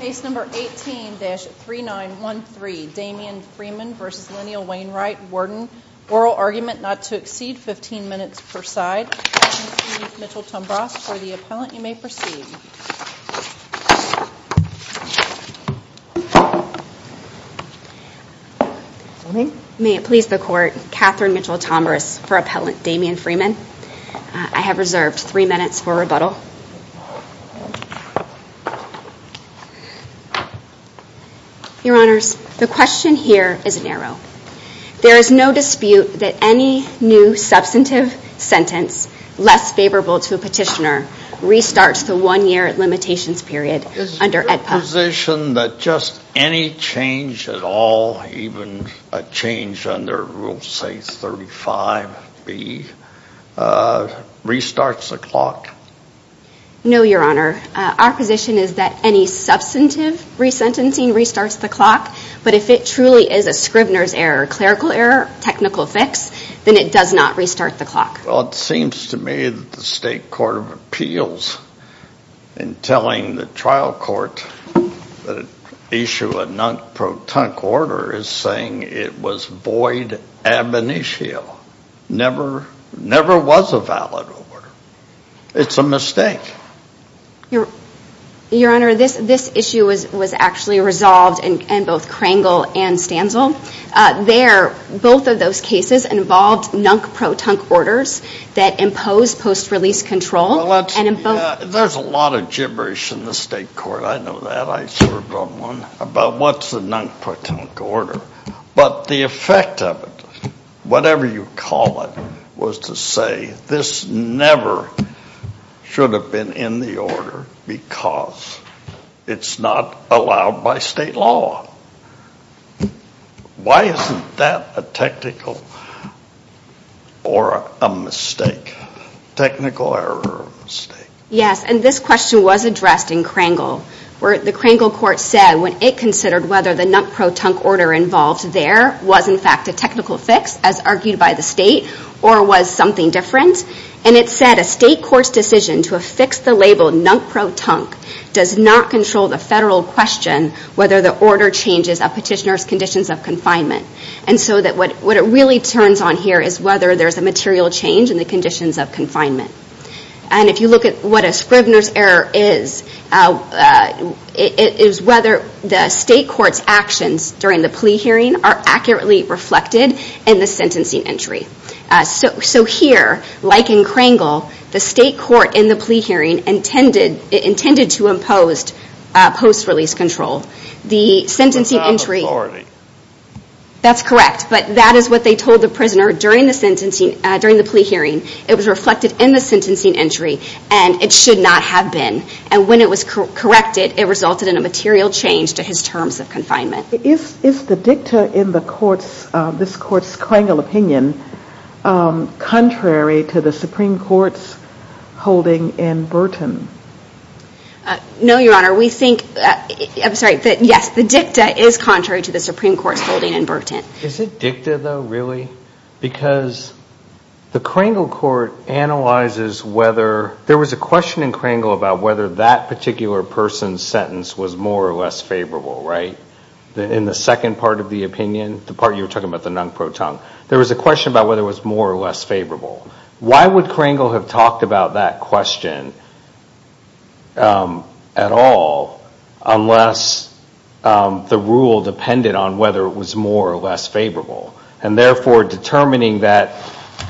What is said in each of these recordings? Case number 18-3913, Damien Freeman v. Lyneal Wainwright, Warden. Oral argument not to exceed 15 minutes per side. Catherine Smith-Mitchell Tombras for the appellant. You may proceed. May it please the court, Catherine Mitchell Tombras for appellant Damien Freeman. I have reserved 3 minutes for rebuttal. Your honors, the question here is narrow. There is no dispute that any new substantive sentence less favorable to a petitioner restarts the one year limitations period under AEDPA. Is your position that just any change at all, even a change under rule say 35B, restarts the clock? No, your honor. Our position is that any substantive resentencing restarts the clock. But if it truly is a scrivener's error, clerical error, technical fix, then it does not restart the clock. Well, it seems to me that the State Court of Appeals in telling the trial court that it issued a non-protunct order is saying it was void ab initio. Never was a valid order. It's a mistake. Your honor, this issue was actually resolved in both Krangel and Stanzel. Both of those cases involved non-protunct orders that impose post-release control. There's a lot of gibberish in the State Court. I know that. I served on one about what's a non-protunct order. But the effect of it, whatever you call it, was to say this never should have been in the order because it's not allowed by state law. Why isn't that a technical or a mistake, technical error or mistake? Yes, and this question was addressed in Krangel where the Krangel court said when it considered whether the non-protunct order involved there was in fact a technical fix, as argued by the state, or was something different. And it said a state court's decision to affix the label non-protunct does not control the federal question whether the order changes a petitioner's conditions of confinement. And so what it really turns on here is whether there's a material change in the conditions of confinement. And if you look at what a Scribner's error is, it is whether the state court's actions during the plea hearing are accurately reflected in the sentencing entry. So here, like in Krangel, the state court in the plea hearing intended to impose post-release control. That's correct, but that is what they told the prisoner during the plea hearing. It was reflected in the sentencing entry, and it should not have been. And when it was corrected, it resulted in a material change to his terms of confinement. Is the dicta in this court's Krangel opinion contrary to the Supreme Court's holding in Burton? No, Your Honor. We think, I'm sorry, but yes, the dicta is contrary to the Supreme Court's holding in Burton. Is it dicta, though, really? Because the Krangel court analyzes whether, there was a question in Krangel about whether that particular person's sentence was more or less favorable, right? In the second part of the opinion, the part you were talking about the non-protunct, there was a question about whether it was more or less favorable. Why would Krangel have talked about that question at all unless the rule depended on whether it was more or less favorable? And therefore, determining that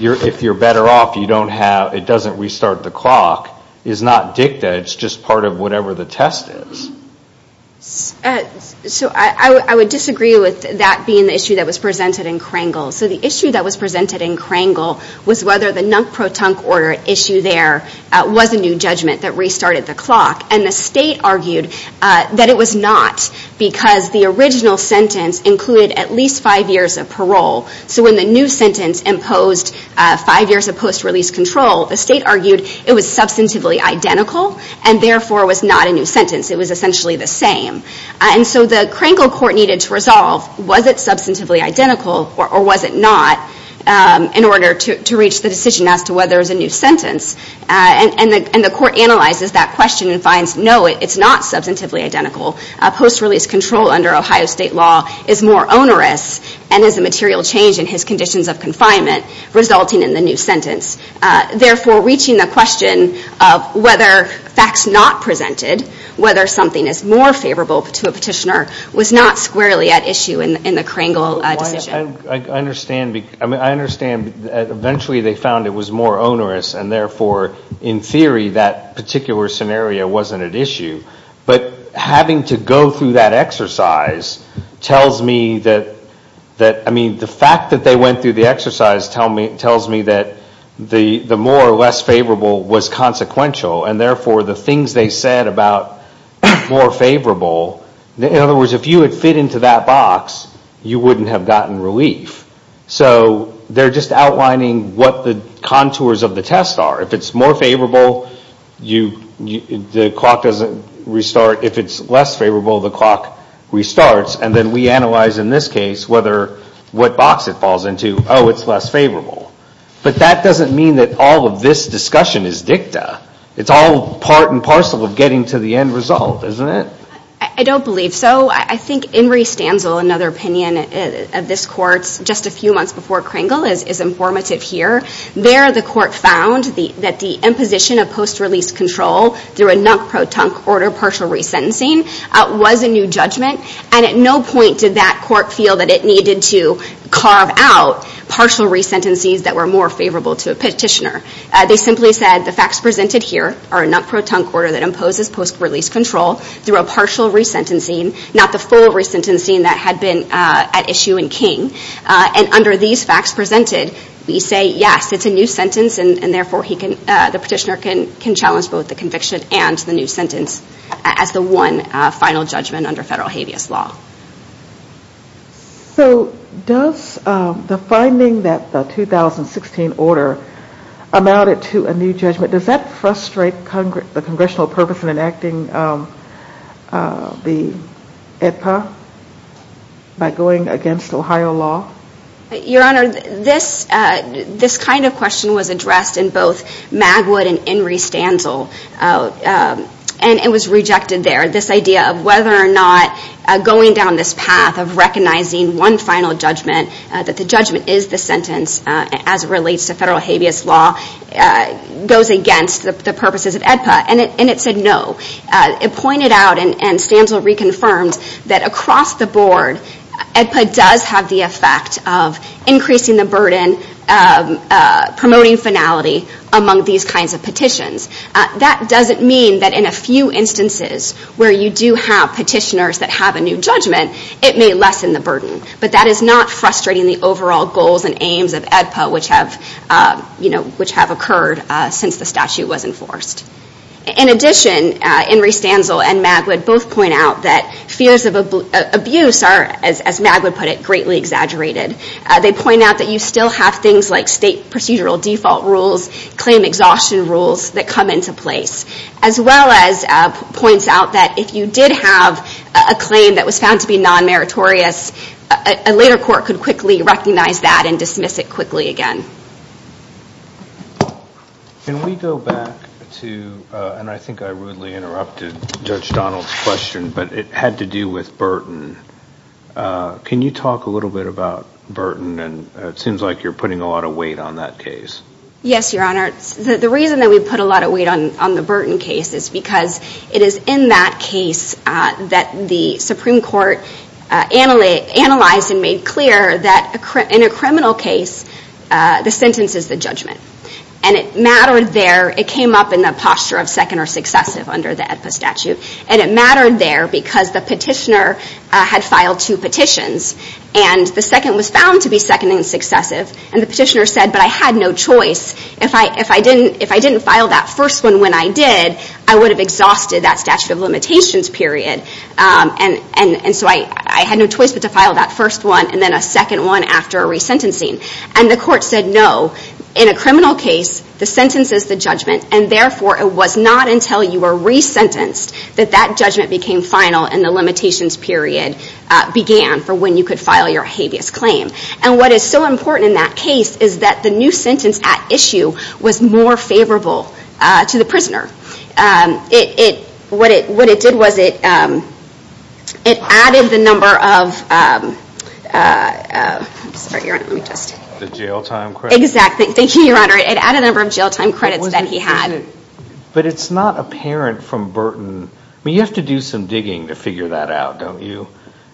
if you're better off, it doesn't restart the clock is not dicta. It's just part of whatever the test is. So I would disagree with that being the issue that was presented in Krangel. So the issue that was presented in Krangel was whether the non-protunct order issue there was a new judgment that restarted the clock. And the state argued that it was not because the original sentence included at least five years of parole. So when the new sentence imposed five years of post-release control, the state argued it was substantively identical and therefore was not a new sentence. It was essentially the same. And so the Krangel court needed to resolve was it substantively identical or was it not in order to reach the decision as to whether it was a new sentence. And the court analyzes that question and finds no, it's not substantively identical. Post-release control under Ohio State law is more onerous and is a material change in his conditions of confinement resulting in the new sentence. Therefore, reaching the question of whether facts not presented, whether something is more favorable to a petitioner, was not squarely at issue in the Krangel decision. I understand. I mean, I understand eventually they found it was more onerous and therefore, in theory, that particular scenario wasn't at issue. But having to go through that exercise tells me that, I mean, the fact that they went through the exercise tells me that the more or less favorable was consequential. And therefore, the things they said about more favorable, in other words, if you had fit into that box, you wouldn't have gotten relief. So they're just outlining what the contours of the test are. If it's more favorable, the clock doesn't restart. If it's less favorable, the clock restarts. And then we analyze, in this case, what box it falls into. Oh, it's less favorable. But that doesn't mean that all of this discussion is dicta. It's all part and parcel of getting to the end result, isn't it? I don't believe so. I think In re stanzel, another opinion of this court just a few months before Krangel, is informative here. There, the court found that the imposition of post-release control through a non-protunct order partial resentencing was a new judgment. And at no point did that court feel that it needed to carve out partial resentencies that were more favorable to a petitioner. They simply said the facts presented here are a non-protunct order that imposes post-release control through a partial resentencing, not the full resentencing that had been at issue in King. And under these facts presented, we say, yes, it's a new sentence, and therefore the petitioner can challenge both the conviction and the new sentence as the one final judgment under federal habeas law. So does the finding that the 2016 order amounted to a new judgment, does that frustrate the congressional purpose in enacting the AEDPA by going against Ohio law? Your Honor, this kind of question was addressed in both Magwood and In re stanzel, and it was rejected there. This idea of whether or not going down this path of recognizing one final judgment, that the judgment is the sentence as it relates to federal habeas law, goes against the purposes of AEDPA, and it said no. It pointed out, and stanzel reconfirmed, that across the board, AEDPA does have the effect of increasing the burden, promoting finality among these kinds of petitions. That doesn't mean that in a few instances where you do have petitioners that have a new judgment, it may lessen the burden. But that is not frustrating the overall goals and aims of AEDPA, which have occurred since the statute was enforced. In addition, In re stanzel and Magwood both point out that fears of abuse are, as Magwood put it, greatly exaggerated. They point out that you still have things like state procedural default rules, claim exhaustion rules that come into place. As well as points out that if you did have a claim that was found to be non-meritorious, a later court could quickly recognize that and dismiss it quickly again. Can we go back to, and I think I rudely interrupted Judge Donald's question, but it had to do with burden. Can you talk a little bit about burden, and it seems like you're putting a lot of weight on that case. Yes, Your Honor. The reason that we put a lot of weight on the Burton case is because it is in that case that the Supreme Court analyzed and made clear that in a criminal case, the sentence is the judgment. And it mattered there, it came up in the posture of second or successive under the AEDPA statute, and it mattered there because the petitioner had filed two petitions. And the second was found to be second and successive, and the petitioner said, but I had no choice. If I didn't file that first one when I did, I would have exhausted that statute of limitations period. And so I had no choice but to file that first one and then a second one after a resentencing. And the court said, no, in a criminal case, the sentence is the judgment, and therefore it was not until you were resentenced that that judgment became final and the limitations period began for when you could file your habeas claim. And what is so important in that case is that the new sentence at issue was more favorable to the prisoner. What it did was it added the number of jail time credits that he had. But it's not apparent from Burton. I mean, you have to do some digging to figure that out, don't you?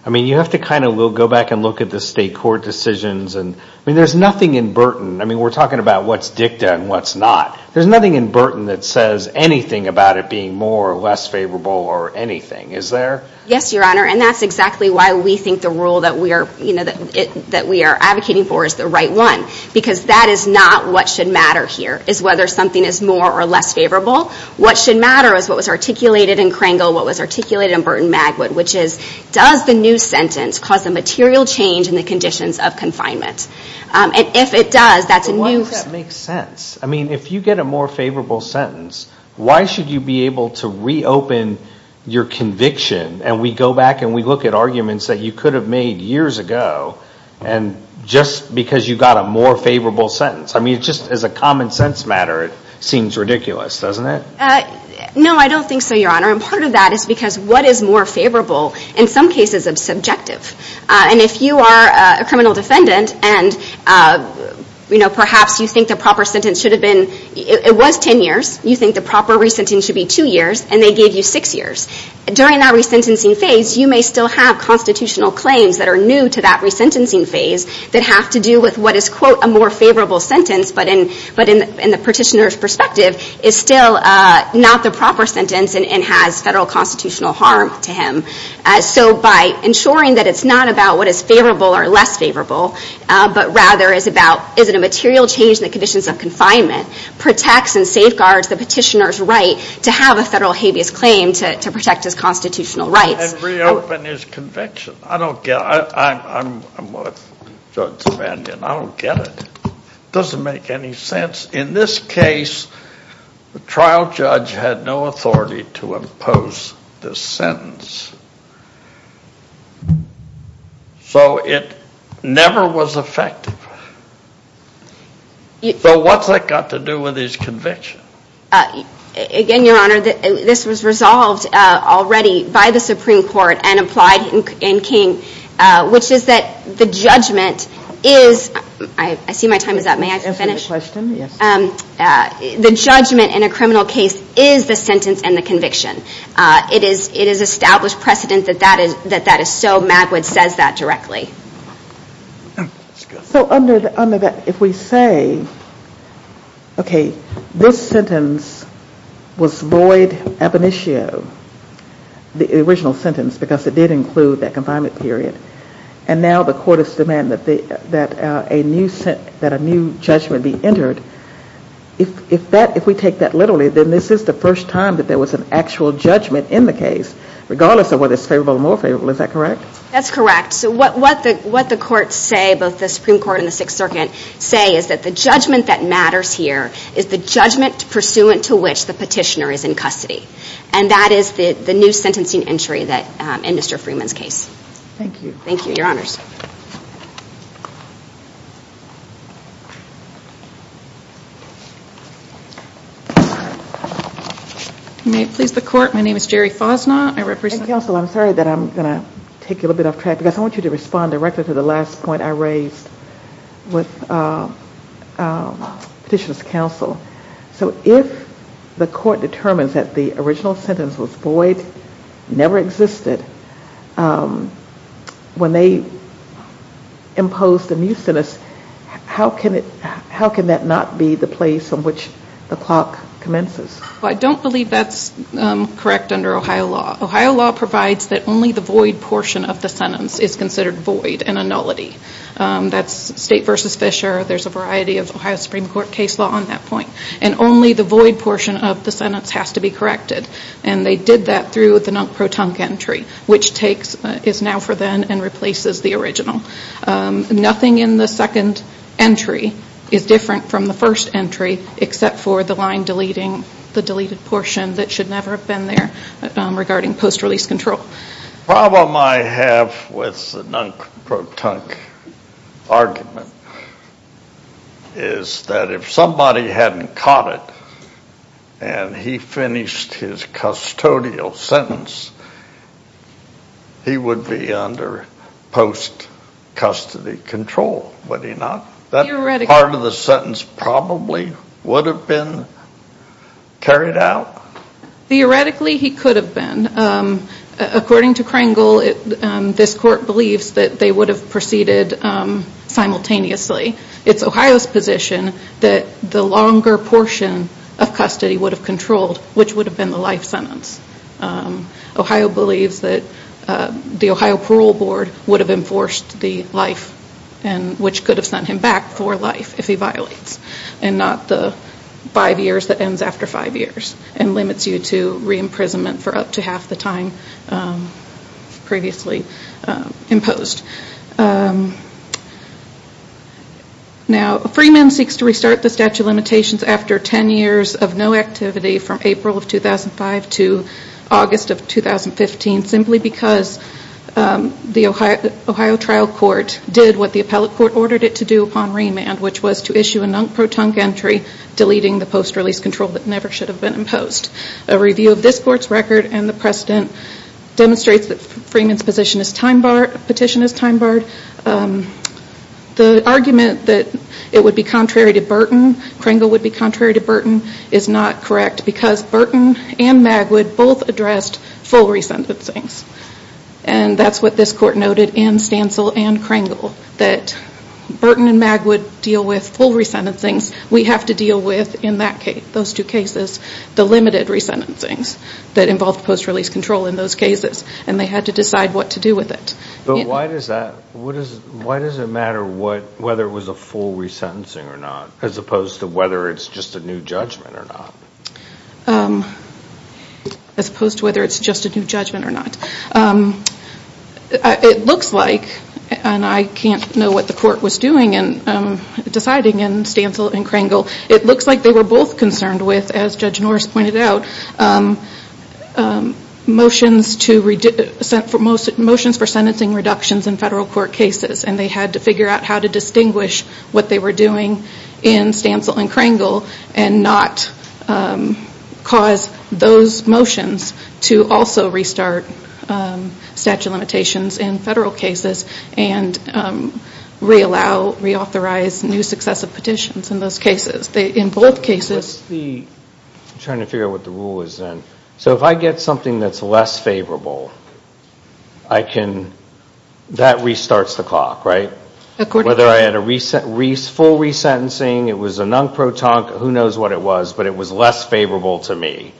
I mean, you have to kind of go back and look at the state court decisions. I mean, there's nothing in Burton. I mean, we're talking about what's dicta and what's not. There's nothing in Burton that says anything about it being more or less favorable or anything. Is there? Yes, Your Honor, and that's exactly why we think the rule that we are advocating for is the right one. Because that is not what should matter here, is whether something is more or less favorable. What should matter is what was articulated in Kringle, what was articulated in Burton-Magwood, which is, does the new sentence cause a material change in the conditions of confinement? And if it does, that's a new sentence. I mean, if you get a more favorable sentence, why should you be able to reopen your conviction and we go back and we look at arguments that you could have made years ago and just because you got a more favorable sentence. I mean, just as a common sense matter, it seems ridiculous, doesn't it? No, I don't think so, Your Honor. And part of that is because what is more favorable in some cases is subjective. And if you are a criminal defendant and, you know, perhaps you think the proper sentence should have been, it was ten years, you think the proper re-sentencing should be two years, and they gave you six years. During that re-sentencing phase, you may still have constitutional claims that are new to that re-sentencing phase that have to do with what is, quote, a more favorable sentence, but in the petitioner's perspective is still not the proper sentence and has federal constitutional harm to him. So by ensuring that it's not about what is favorable or less favorable, but rather is about is it a material change in the conditions of confinement, protects and safeguards the petitioner's right to have a federal habeas claim to protect his constitutional rights. And reopen his conviction. I don't get it. I'm with Judge Savanian. I don't get it. It doesn't make any sense. In this case, the trial judge had no authority to impose this sentence. So it never was effective. So what's that got to do with his conviction? Again, Your Honor, this was resolved already by the Supreme Court and applied in King, which is that the judgment is, I see my time is up. May I finish? Yes. The judgment in a criminal case is the sentence and the conviction. It is established precedent that that is so. Magwood says that directly. So under that, if we say, okay, this sentence was void ab initio, the original sentence, because it did include that confinement period, and now the court is demanding that a new judgment be entered, if we take that literally, then this is the first time that there was an actual judgment in the case, regardless of whether it's favorable or unfavorable. Is that correct? That's correct. So what the courts say, both the Supreme Court and the Sixth Circuit, say is that the judgment that matters here is the judgment pursuant to which the petitioner is in custody. And that is the new sentencing entry in Mr. Freeman's case. Thank you. Thank you. Your Honors. May it please the Court? My name is Jerry Fosnaught. Counsel, I'm sorry that I'm going to take you a little bit off track, because I want you to respond directly to the last point I raised with Petitioner's Counsel. So if the court determines that the original sentence was void, never existed, when they impose the new sentence, how can that not be the place on which the clock commences? I don't believe that's correct under Ohio law. Ohio law provides that only the void portion of the sentence is considered void and a nullity. That's State v. Fisher. There's a variety of Ohio Supreme Court case law on that point. And only the void portion of the sentence has to be corrected. And they did that through the non-protunct entry, which is now for then and replaces the original. Nothing in the second entry is different from the first entry, except for the line deleting the deleted portion that should never have been there regarding post-release control. The problem I have with the non-protunct argument is that if somebody hadn't caught it and he finished his custodial sentence, he would be under post-custody control, would he not? That part of the sentence probably would have been carried out? Theoretically, he could have been. According to Kringle, this court believes that they would have proceeded simultaneously. It's Ohio's position that the longer portion of custody would have controlled, which would have been the life sentence. Ohio believes that the Ohio Parole Board would have enforced the life, which could have sent him back for life if he violates and not the five years that ends after five years and limits you to re-imprisonment for up to half the time previously imposed. Now, Freeman seeks to restart the statute of limitations after 10 years of no activity from April of 2005 to August of 2015, simply because the Ohio trial court did what the appellate court ordered it to do upon remand, which was to issue a non-protunct entry, deleting the post-release control that never should have been imposed. A review of this court's record and the precedent demonstrates that Freeman's petition is time-barred. The argument that it would be contrary to Burton, Kringle would be contrary to Burton, is not correct because Burton and Magwood both addressed full resentencings. And that's what this court noted in Stancil and Kringle, that Burton and Magwood deal with full resentencings. We have to deal with, in those two cases, the limited resentencings that involve post-release control in those cases. And they had to decide what to do with it. But why does it matter whether it was a full resentencing or not, as opposed to whether it's just a new judgment or not? As opposed to whether it's just a new judgment or not. It looks like, and I can't know what the court was doing in deciding in Stancil and Kringle, it looks like they were both concerned with, as Judge Norris pointed out, motions for sentencing reductions in federal court cases. And they had to figure out how to distinguish what they were doing in Stancil and Kringle and not cause those motions to also restart statute of limitations in federal cases and re-allow, re-authorize new successive petitions in those cases. In both cases... I'm trying to figure out what the rule is then. So if I get something that's less favorable, that restarts the clock, right? Whether I had a full resentencing, it was a non-proton, who knows what it was, but it was less favorable to me.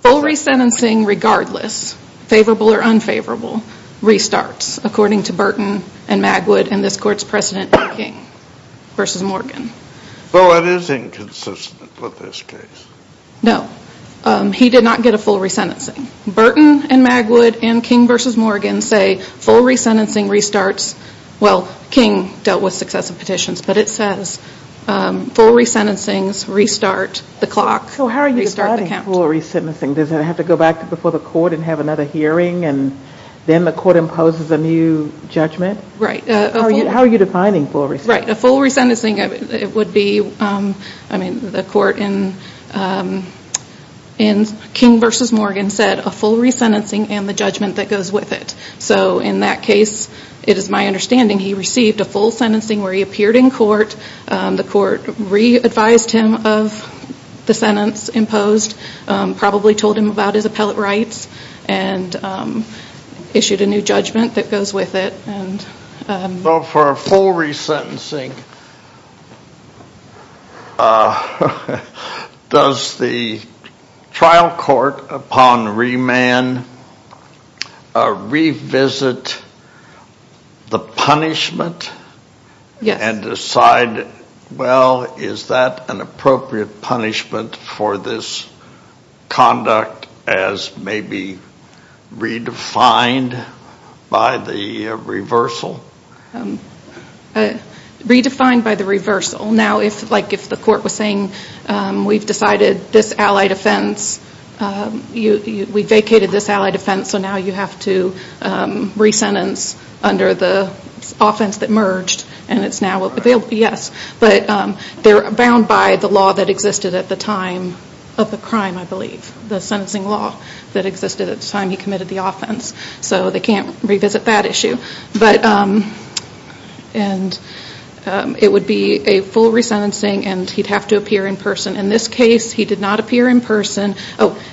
Full resentencing regardless, favorable or unfavorable, restarts, according to Burton and Magwood and this court's precedent in King v. Morgan. Though it is inconsistent with this case. No. He did not get a full resentencing. Burton and Magwood and King v. Morgan say full resentencing restarts. Well, King dealt with successive petitions, but it says full resentencings restart the clock. So how are you defining full resentencing? Does it have to go back before the court and have another hearing and then the court imposes a new judgment? Right. How are you defining full resentencing? Right. A full resentencing would be, I mean, the court in King v. Morgan said a full resentencing and the judgment that goes with it. So in that case, it is my understanding he received a full sentencing where he appeared in court, the court re-advised him of the sentence imposed, probably told him about his appellate rights, and issued a new judgment that goes with it. So for a full resentencing, does the trial court upon remand revisit the punishment? Yes. And decide, well, is that an appropriate punishment for this conduct as may be redefined by the reversal? Redefined by the reversal. Now, like if the court was saying, we've decided this allied offense, we vacated this allied offense, so now you have to resentence under the offense that merged and it's now available. Yes. But they're bound by the law that existed at the time of the crime, I believe. The sentencing law that existed at the time he committed the offense. So they can't revisit that issue. But it would be a full resentencing and he'd have to appear in person. In this case, he did not appear in person.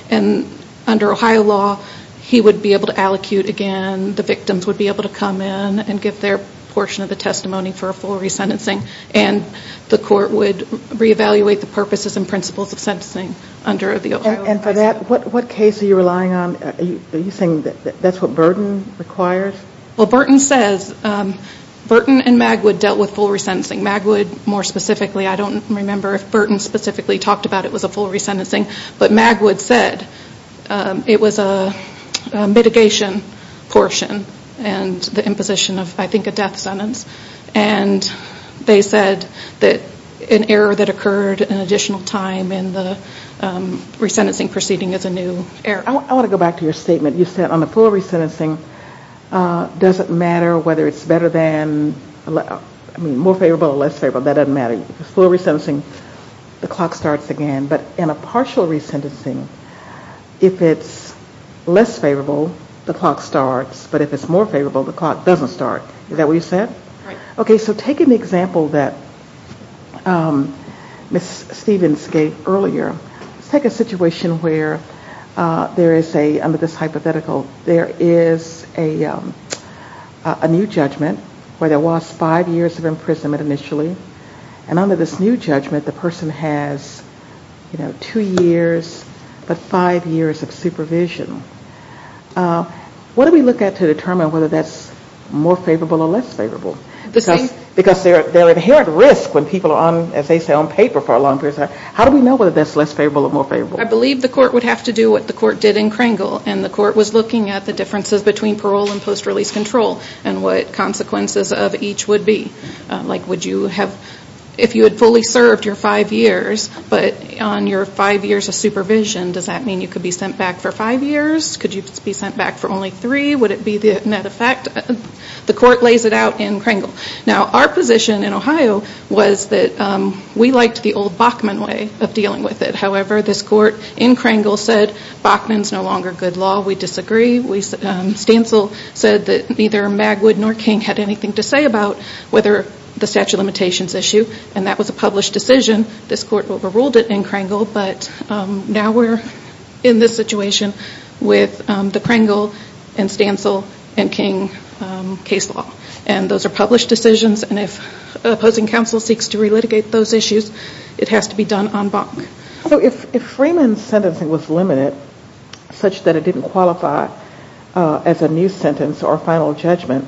And under Ohio law, he would be able to allocute again. The victims would be able to come in and give their portion of the testimony for a full resentencing. And the court would reevaluate the purposes and principles of sentencing under the Ohio law. And for that, what case are you relying on? Are you saying that's what Burton requires? Well, Burton says, Burton and Magwood dealt with full resentencing. Magwood, more specifically, I don't remember if Burton specifically talked about it was a full resentencing. But Magwood said it was a mitigation portion and the imposition of, I think, a death sentence. And they said that an error that occurred an additional time in the resentencing proceeding is a new error. I want to go back to your statement. You said on the full resentencing, does it matter whether it's better than, I mean, more favorable or less favorable? That doesn't matter. Full resentencing, the clock starts again. But in a partial resentencing, if it's less favorable, the clock starts. But if it's more favorable, the clock doesn't start. Is that what you said? Right. Okay. So take an example that Ms. Stevens gave earlier. Let's take a situation where there is a, under this hypothetical, there is a new judgment where there was five years of imprisonment initially. And under this new judgment, the person has, you know, two years, but five years of supervision. What do we look at to determine whether that's more favorable or less favorable? Because they're at inherent risk when people are on, as they say, on paper for a long period of time. How do we know whether that's less favorable or more favorable? I believe the court would have to do what the court did in Kringle. And the court was looking at the differences between parole and post-release control and what consequences of each would be. Like, would you have, if you had fully served your five years, but on your five years of supervision, does that mean you could be sent back for five years? Could you be sent back for only three? Would it be the net effect? The court lays it out in Kringle. Now, our position in Ohio was that we liked the old Bachman way of dealing with it. However, this court in Kringle said, Bachman's no longer good law. We disagree. Stancil said that neither Magwood nor King had anything to say about whether the statute of limitations issue. And that was a published decision. This court overruled it in Kringle. But now we're in this situation with the Kringle and Stancil and King case law. And those are published decisions. And if opposing counsel seeks to relitigate those issues, it has to be done on Bachman. So if Freeman's sentencing was limited, such that it didn't qualify as a new sentence or final judgment,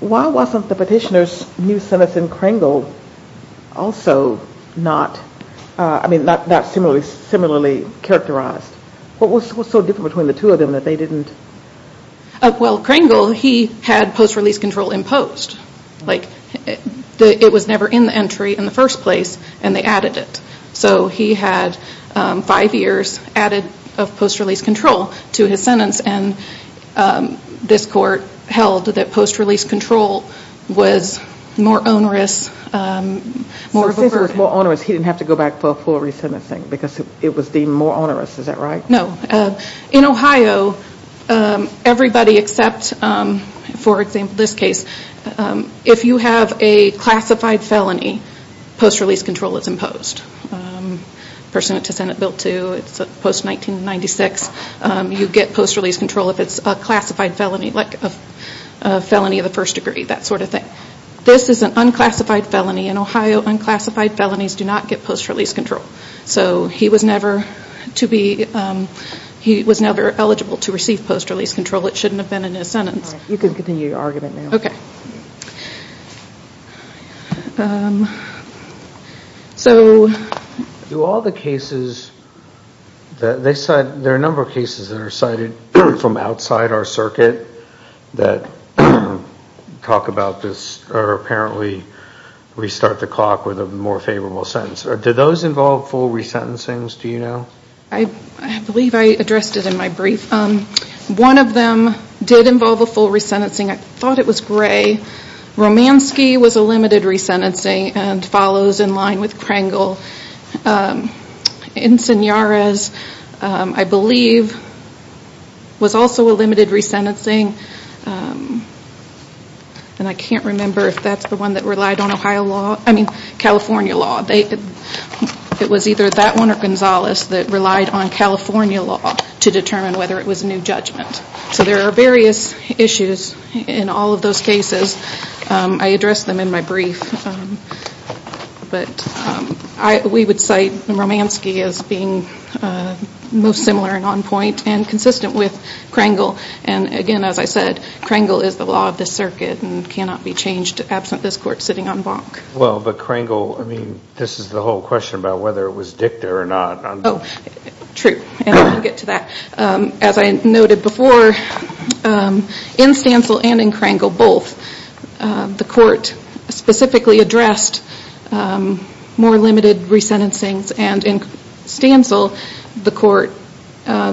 why wasn't the petitioner's new sentence in Kringle also not, I mean, not similarly characterized? What was so different between the two of them that they didn't? Well, Kringle, he had post-release control imposed. Like, it was never in the entry in the first place, and they added it. So he had five years added of post-release control to his sentence, and this court held that post-release control was more onerous, more of a burden. Since it was more onerous, he didn't have to go back for a full re-sentencing because it was deemed more onerous. Is that right? No. In Ohio, everybody except, for example, this case, if you have a classified felony, post-release control is imposed. Person to Senate Bill 2, it's post-1996. You get post-release control if it's a classified felony, like a felony of the first degree, that sort of thing. This is an unclassified felony. In Ohio, unclassified felonies do not get post-release control. So he was never eligible to receive post-release control. It shouldn't have been in his sentence. All right. You can continue your argument now. Okay. Do all the cases that they cite, there are a number of cases that are cited from outside our circuit that talk about this or apparently restart the clock with a more favorable sentence. Do those involve full re-sentencings? Do you know? I believe I addressed it in my brief. One of them did involve a full re-sentencing. I thought it was gray. Romanski was a limited re-sentencing and follows in line with Krangel. Insigniares, I believe, was also a limited re-sentencing. And I can't remember if that's the one that relied on California law. It was either that one or Gonzalez that relied on California law to determine whether it was a new judgment. So there are various issues in all of those cases. I addressed them in my brief. But we would cite Romanski as being most similar and on point and consistent with Krangel. And, again, as I said, Krangel is the law of this circuit and cannot be changed absent this court sitting on bonk. Well, but Krangel, I mean, this is the whole question about whether it was dicta or not. Oh, true. And I'll get to that. As I noted before, in Stancil and in Krangel, both, the court specifically addressed more limited re-sentencings. And in Stancil, the court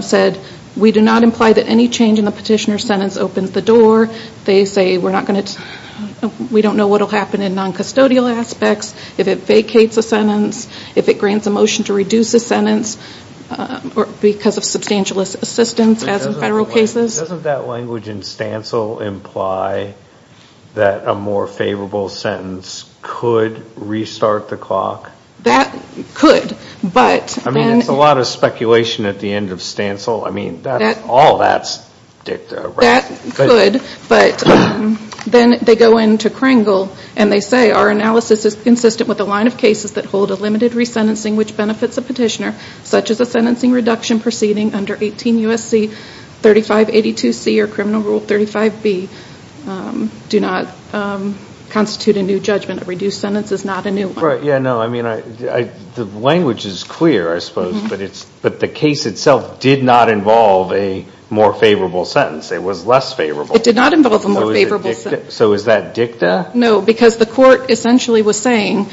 said, we do not imply that any change in the petitioner's sentence opens the door. They say we're not going to, we don't know what will happen in non-custodial aspects, if it vacates a sentence, if it grants a motion to reduce a sentence because of substantial assistance as in federal cases. Doesn't that language in Stancil imply that a more favorable sentence could restart the clock? That could. I mean, it's a lot of speculation at the end of Stancil. I mean, all that's dicta. That could, but then they go into Krangel and they say, our analysis is consistent with a line of cases that hold a limited re-sentencing which benefits a petitioner, such as a sentencing reduction proceeding under 18 U.S.C. 3582C or Criminal Rule 35B, do not constitute a new judgment. A reduced sentence is not a new one. Yeah, no, I mean, the language is clear, I suppose, but the case itself did not involve a more favorable sentence. It was less favorable. It did not involve a more favorable sentence. So is that dicta? No, because the court essentially was saying,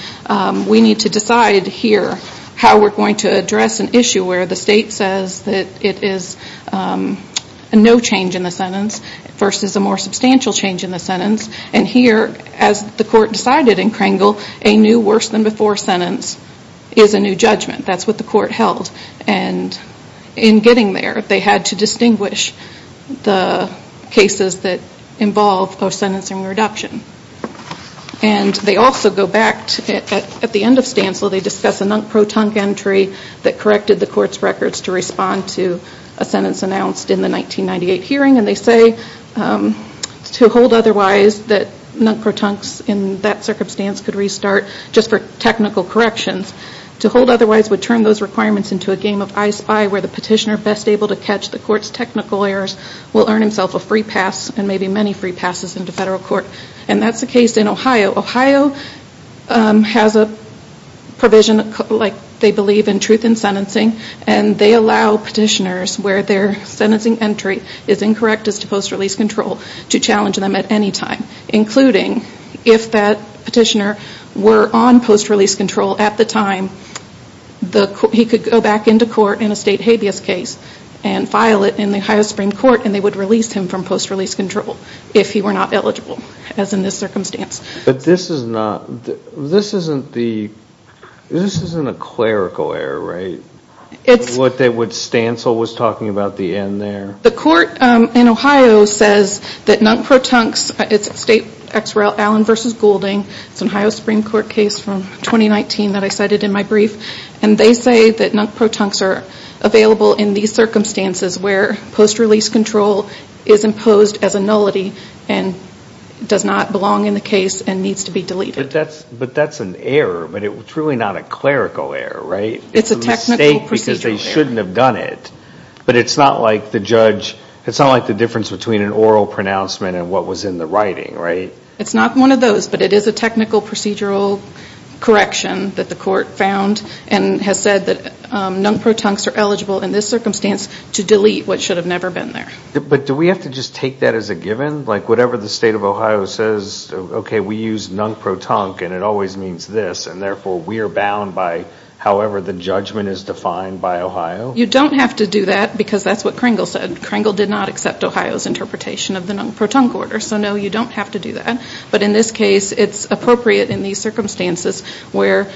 we need to decide here how we're going to address an issue where the state says that it is a no change in the sentence versus a more substantial change in the sentence. And here, as the court decided in Krangel, a new worse than before sentence is a new judgment. That's what the court held. And in getting there, they had to distinguish the cases that involve post-sentencing reduction. And they also go back at the end of Stancil. They discuss a non-pro-tunk entry that corrected the court's records to respond to a sentence announced in the 1998 hearing. And they say, to hold otherwise, that non-pro-tunks in that circumstance could restart just for technical corrections. To hold otherwise would turn those requirements into a game of I-spy, where the petitioner best able to catch the court's technical errors will earn himself a free pass and maybe many free passes into federal court. And that's the case in Ohio. Ohio has a provision, like they believe, in truth in sentencing. And they allow petitioners where their sentencing entry is incorrect as to post-release control to challenge them at any time. Including if that petitioner were on post-release control at the time, he could go back into court in a state habeas case and file it in the Ohio Supreme Court and they would release him from post-release control if he were not eligible, as in this circumstance. But this isn't a clerical error, right? What Stancil was talking about, the end there? The court in Ohio says that non-pro-tunks, it's a state, Allen v. Goulding, it's an Ohio Supreme Court case from 2019 that I cited in my brief, and they say that non-pro-tunks are available in these circumstances where post-release control is imposed as a nullity and does not belong in the case and needs to be deleted. But that's an error, but it's really not a clerical error, right? It's a technical procedural error. It's a mistake because they shouldn't have done it. But it's not like the judge, it's not like the difference between an oral pronouncement and what was in the writing, right? It's not one of those, but it is a technical procedural correction that the court found and has said that non-pro-tunks are eligible in this circumstance to delete what should have never been there. But do we have to just take that as a given? Like whatever the state of Ohio says, okay, we use non-pro-tunk and it always means this, and therefore we are bound by however the judgment is defined by Ohio? You don't have to do that because that's what Kringle said. Kringle did not accept Ohio's interpretation of the non-pro-tunk order, so no, you don't have to do that. But in this case, it's appropriate in these circumstances where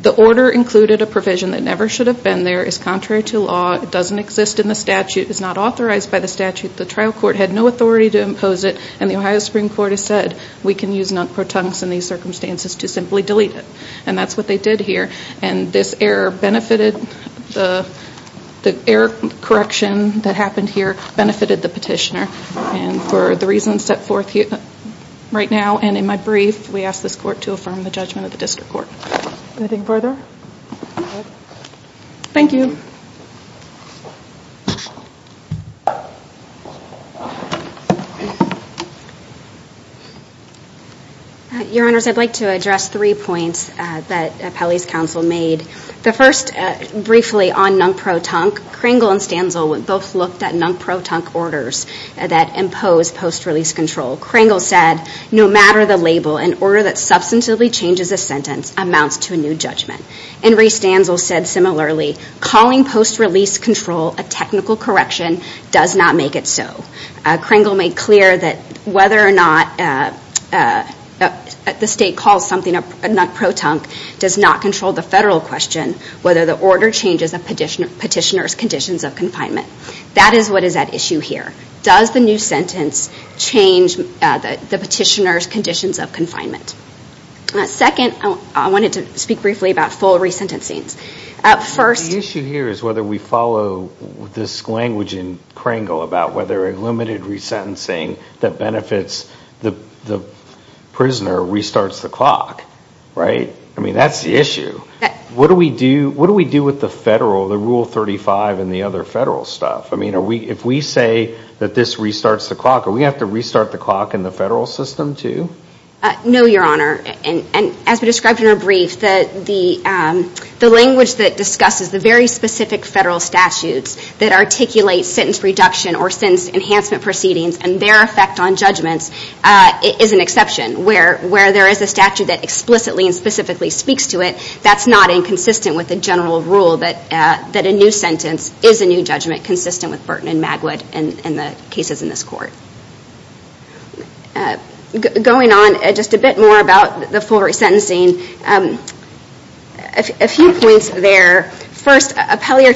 the order included a provision that never should have been there, is contrary to law, doesn't exist in the statute, is not authorized by the statute, the trial court had no authority to impose it, and the Ohio Supreme Court has said we can use non-pro-tunks in these circumstances to simply delete it. And that's what they did here. And this error benefited, the error correction that happened here benefited the petitioner. And for the reasons set forth right now and in my brief, we ask this court to affirm the judgment of the district court. Anything further? Thank you. Your Honors, I'd like to address three points that Pelley's counsel made. The first briefly on non-pro-tunk, Kringle and Stanzel both looked at non-pro-tunk orders that impose post-release control. Kringle said, no matter the label, an order that substantively changes a sentence amounts to a new judgment. And Reece Stanzel said similarly, calling post-release control a technical correction does not make it so. Kringle made clear that whether or not the state calls something a non-pro-tunk does not control the federal question, whether the order changes a petitioner's conditions of confinement. That is what is at issue here. Does the new sentence change the petitioner's conditions of confinement? Second, I wanted to speak briefly about full resentencings. The issue here is whether we follow this language in Kringle about whether a limited resentencing that benefits the prisoner restarts the clock. I mean, that's the issue. What do we do with the federal, the Rule 35 and the other federal stuff? I mean, if we say that this restarts the clock, do we have to restart the clock in the federal system too? No, Your Honor. And as we described in our brief, the language that discusses the very specific federal statutes that articulate sentence reduction or sentence enhancement proceedings and their effect on judgments is an exception. Where there is a statute that explicitly and specifically speaks to it, that's not inconsistent with the general rule that a new sentence is a new judgment consistent with Burton and Magwood and the cases in this Court. Going on just a bit more about the full resentencing, a few points there. First, Appellee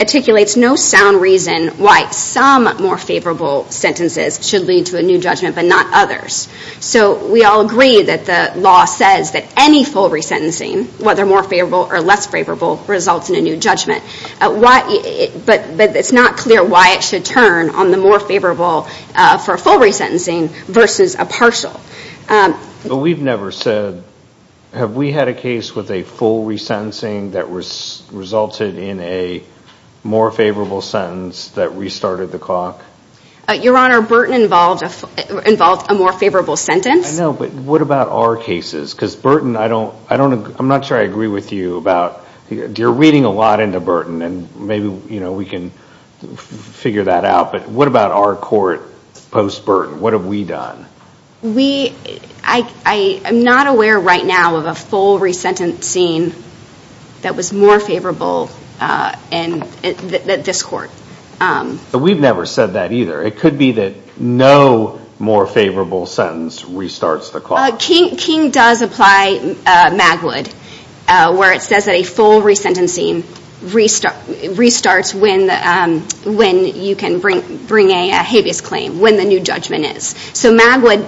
articulates no sound reason why some more favorable sentences should lead to a new judgment but not others. So we all agree that the law says that any full resentencing, whether more favorable or less favorable, results in a new judgment. But it's not clear why it should turn on the more favorable for a full resentencing versus a partial. But we've never said, have we had a case with a full resentencing that resulted in a more favorable sentence that restarted the clock? Your Honor, Burton involved a more favorable sentence. I know, but what about our cases? Because Burton, I don't, I'm not sure I agree with you about, you're reading a lot into Burton and maybe we can figure that out, but what about our court post-Burton? What have we done? We, I am not aware right now of a full resentencing that was more favorable than this Court. But we've never said that either. It could be that no more favorable sentence restarts the clock. King does apply Magwood, where it says that a full resentencing restarts when you can bring a habeas claim, when the new judgment is. So Magwood,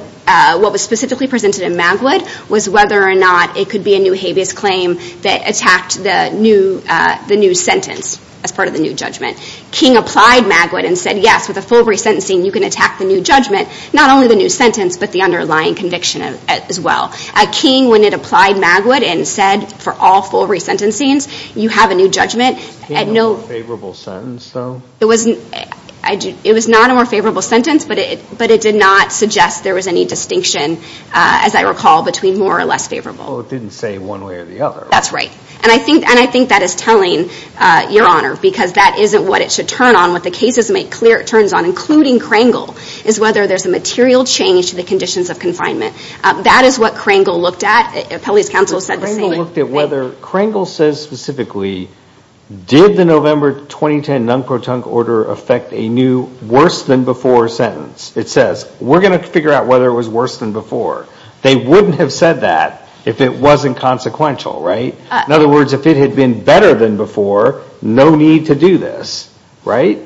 what was specifically presented in Magwood was whether or not it could be a new habeas claim that attacked the new sentence as part of the new judgment. King applied Magwood and said, yes, with a full resentencing you can attack the new judgment, not only the new sentence, but the underlying conviction as well. King, when it applied Magwood and said for all full resentencings, you have a new judgment. It was not a more favorable sentence, but it did not suggest there was any distinction, as I recall, between more or less favorable. Well, it didn't say one way or the other, right? That's right. And I think that is telling, Your Honor, because that isn't what it should turn on. What the cases make clear it turns on, including Krangel, is whether there's a material change to the conditions of confinement. That is what Krangel looked at. Appellate's counsel said the same thing. Krangel looked at whether, Krangel says specifically, did the November 2010 non-protunct order affect a new worse-than-before sentence? It says, we're going to figure out whether it was worse than before. They wouldn't have said that if it wasn't consequential, right? In other words, if it had been better than before, no need to do this, right?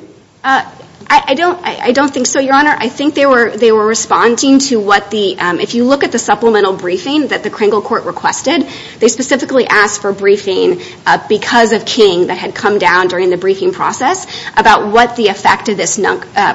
I don't think so, Your Honor. I think they were responding to what the, if you look at the supplemental briefing that the Krangel court requested, they specifically asked for briefing because of King that had come down during the briefing process about what the effect of this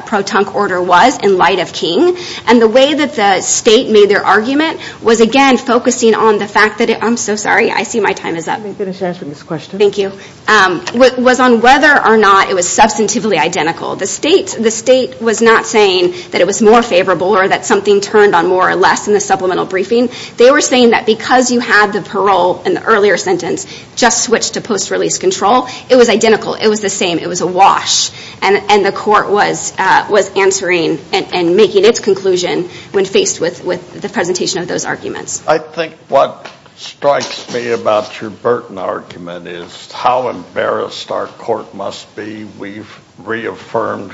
protunct order was in light of King. And the way that the State made their argument was, again, focusing on the fact that it, I'm so sorry, I see my time is up. Let me finish answering this question. Thank you. It was on whether or not it was substantively identical. The State was not saying that it was more favorable or that something turned on more or less in the supplemental briefing. They were saying that because you had the parole in the earlier sentence just switched to post-release control, it was identical. It was the same. It was a wash. And the court was answering and making its conclusion when faced with the presentation of those arguments. I think what strikes me about your Burton argument is how embarrassed our court must be. We've reaffirmed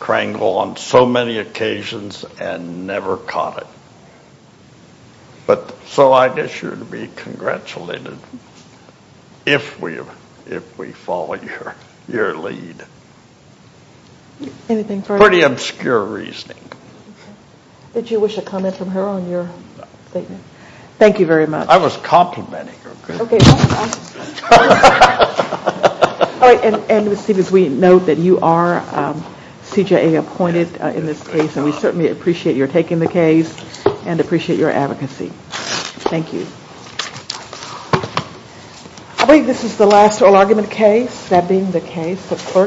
Krangel on so many occasions and never caught it. So I guess you'd be congratulated if we follow your lead. Pretty obscure reasoning. Did you wish to comment from her on your statement? Thank you very much. I was complimenting her. And as we note that you are CJA appointed in this case and we certainly appreciate your taking the case and appreciate your advocacy. Thank you. I believe this is the last oral argument case, that being the case of Clark.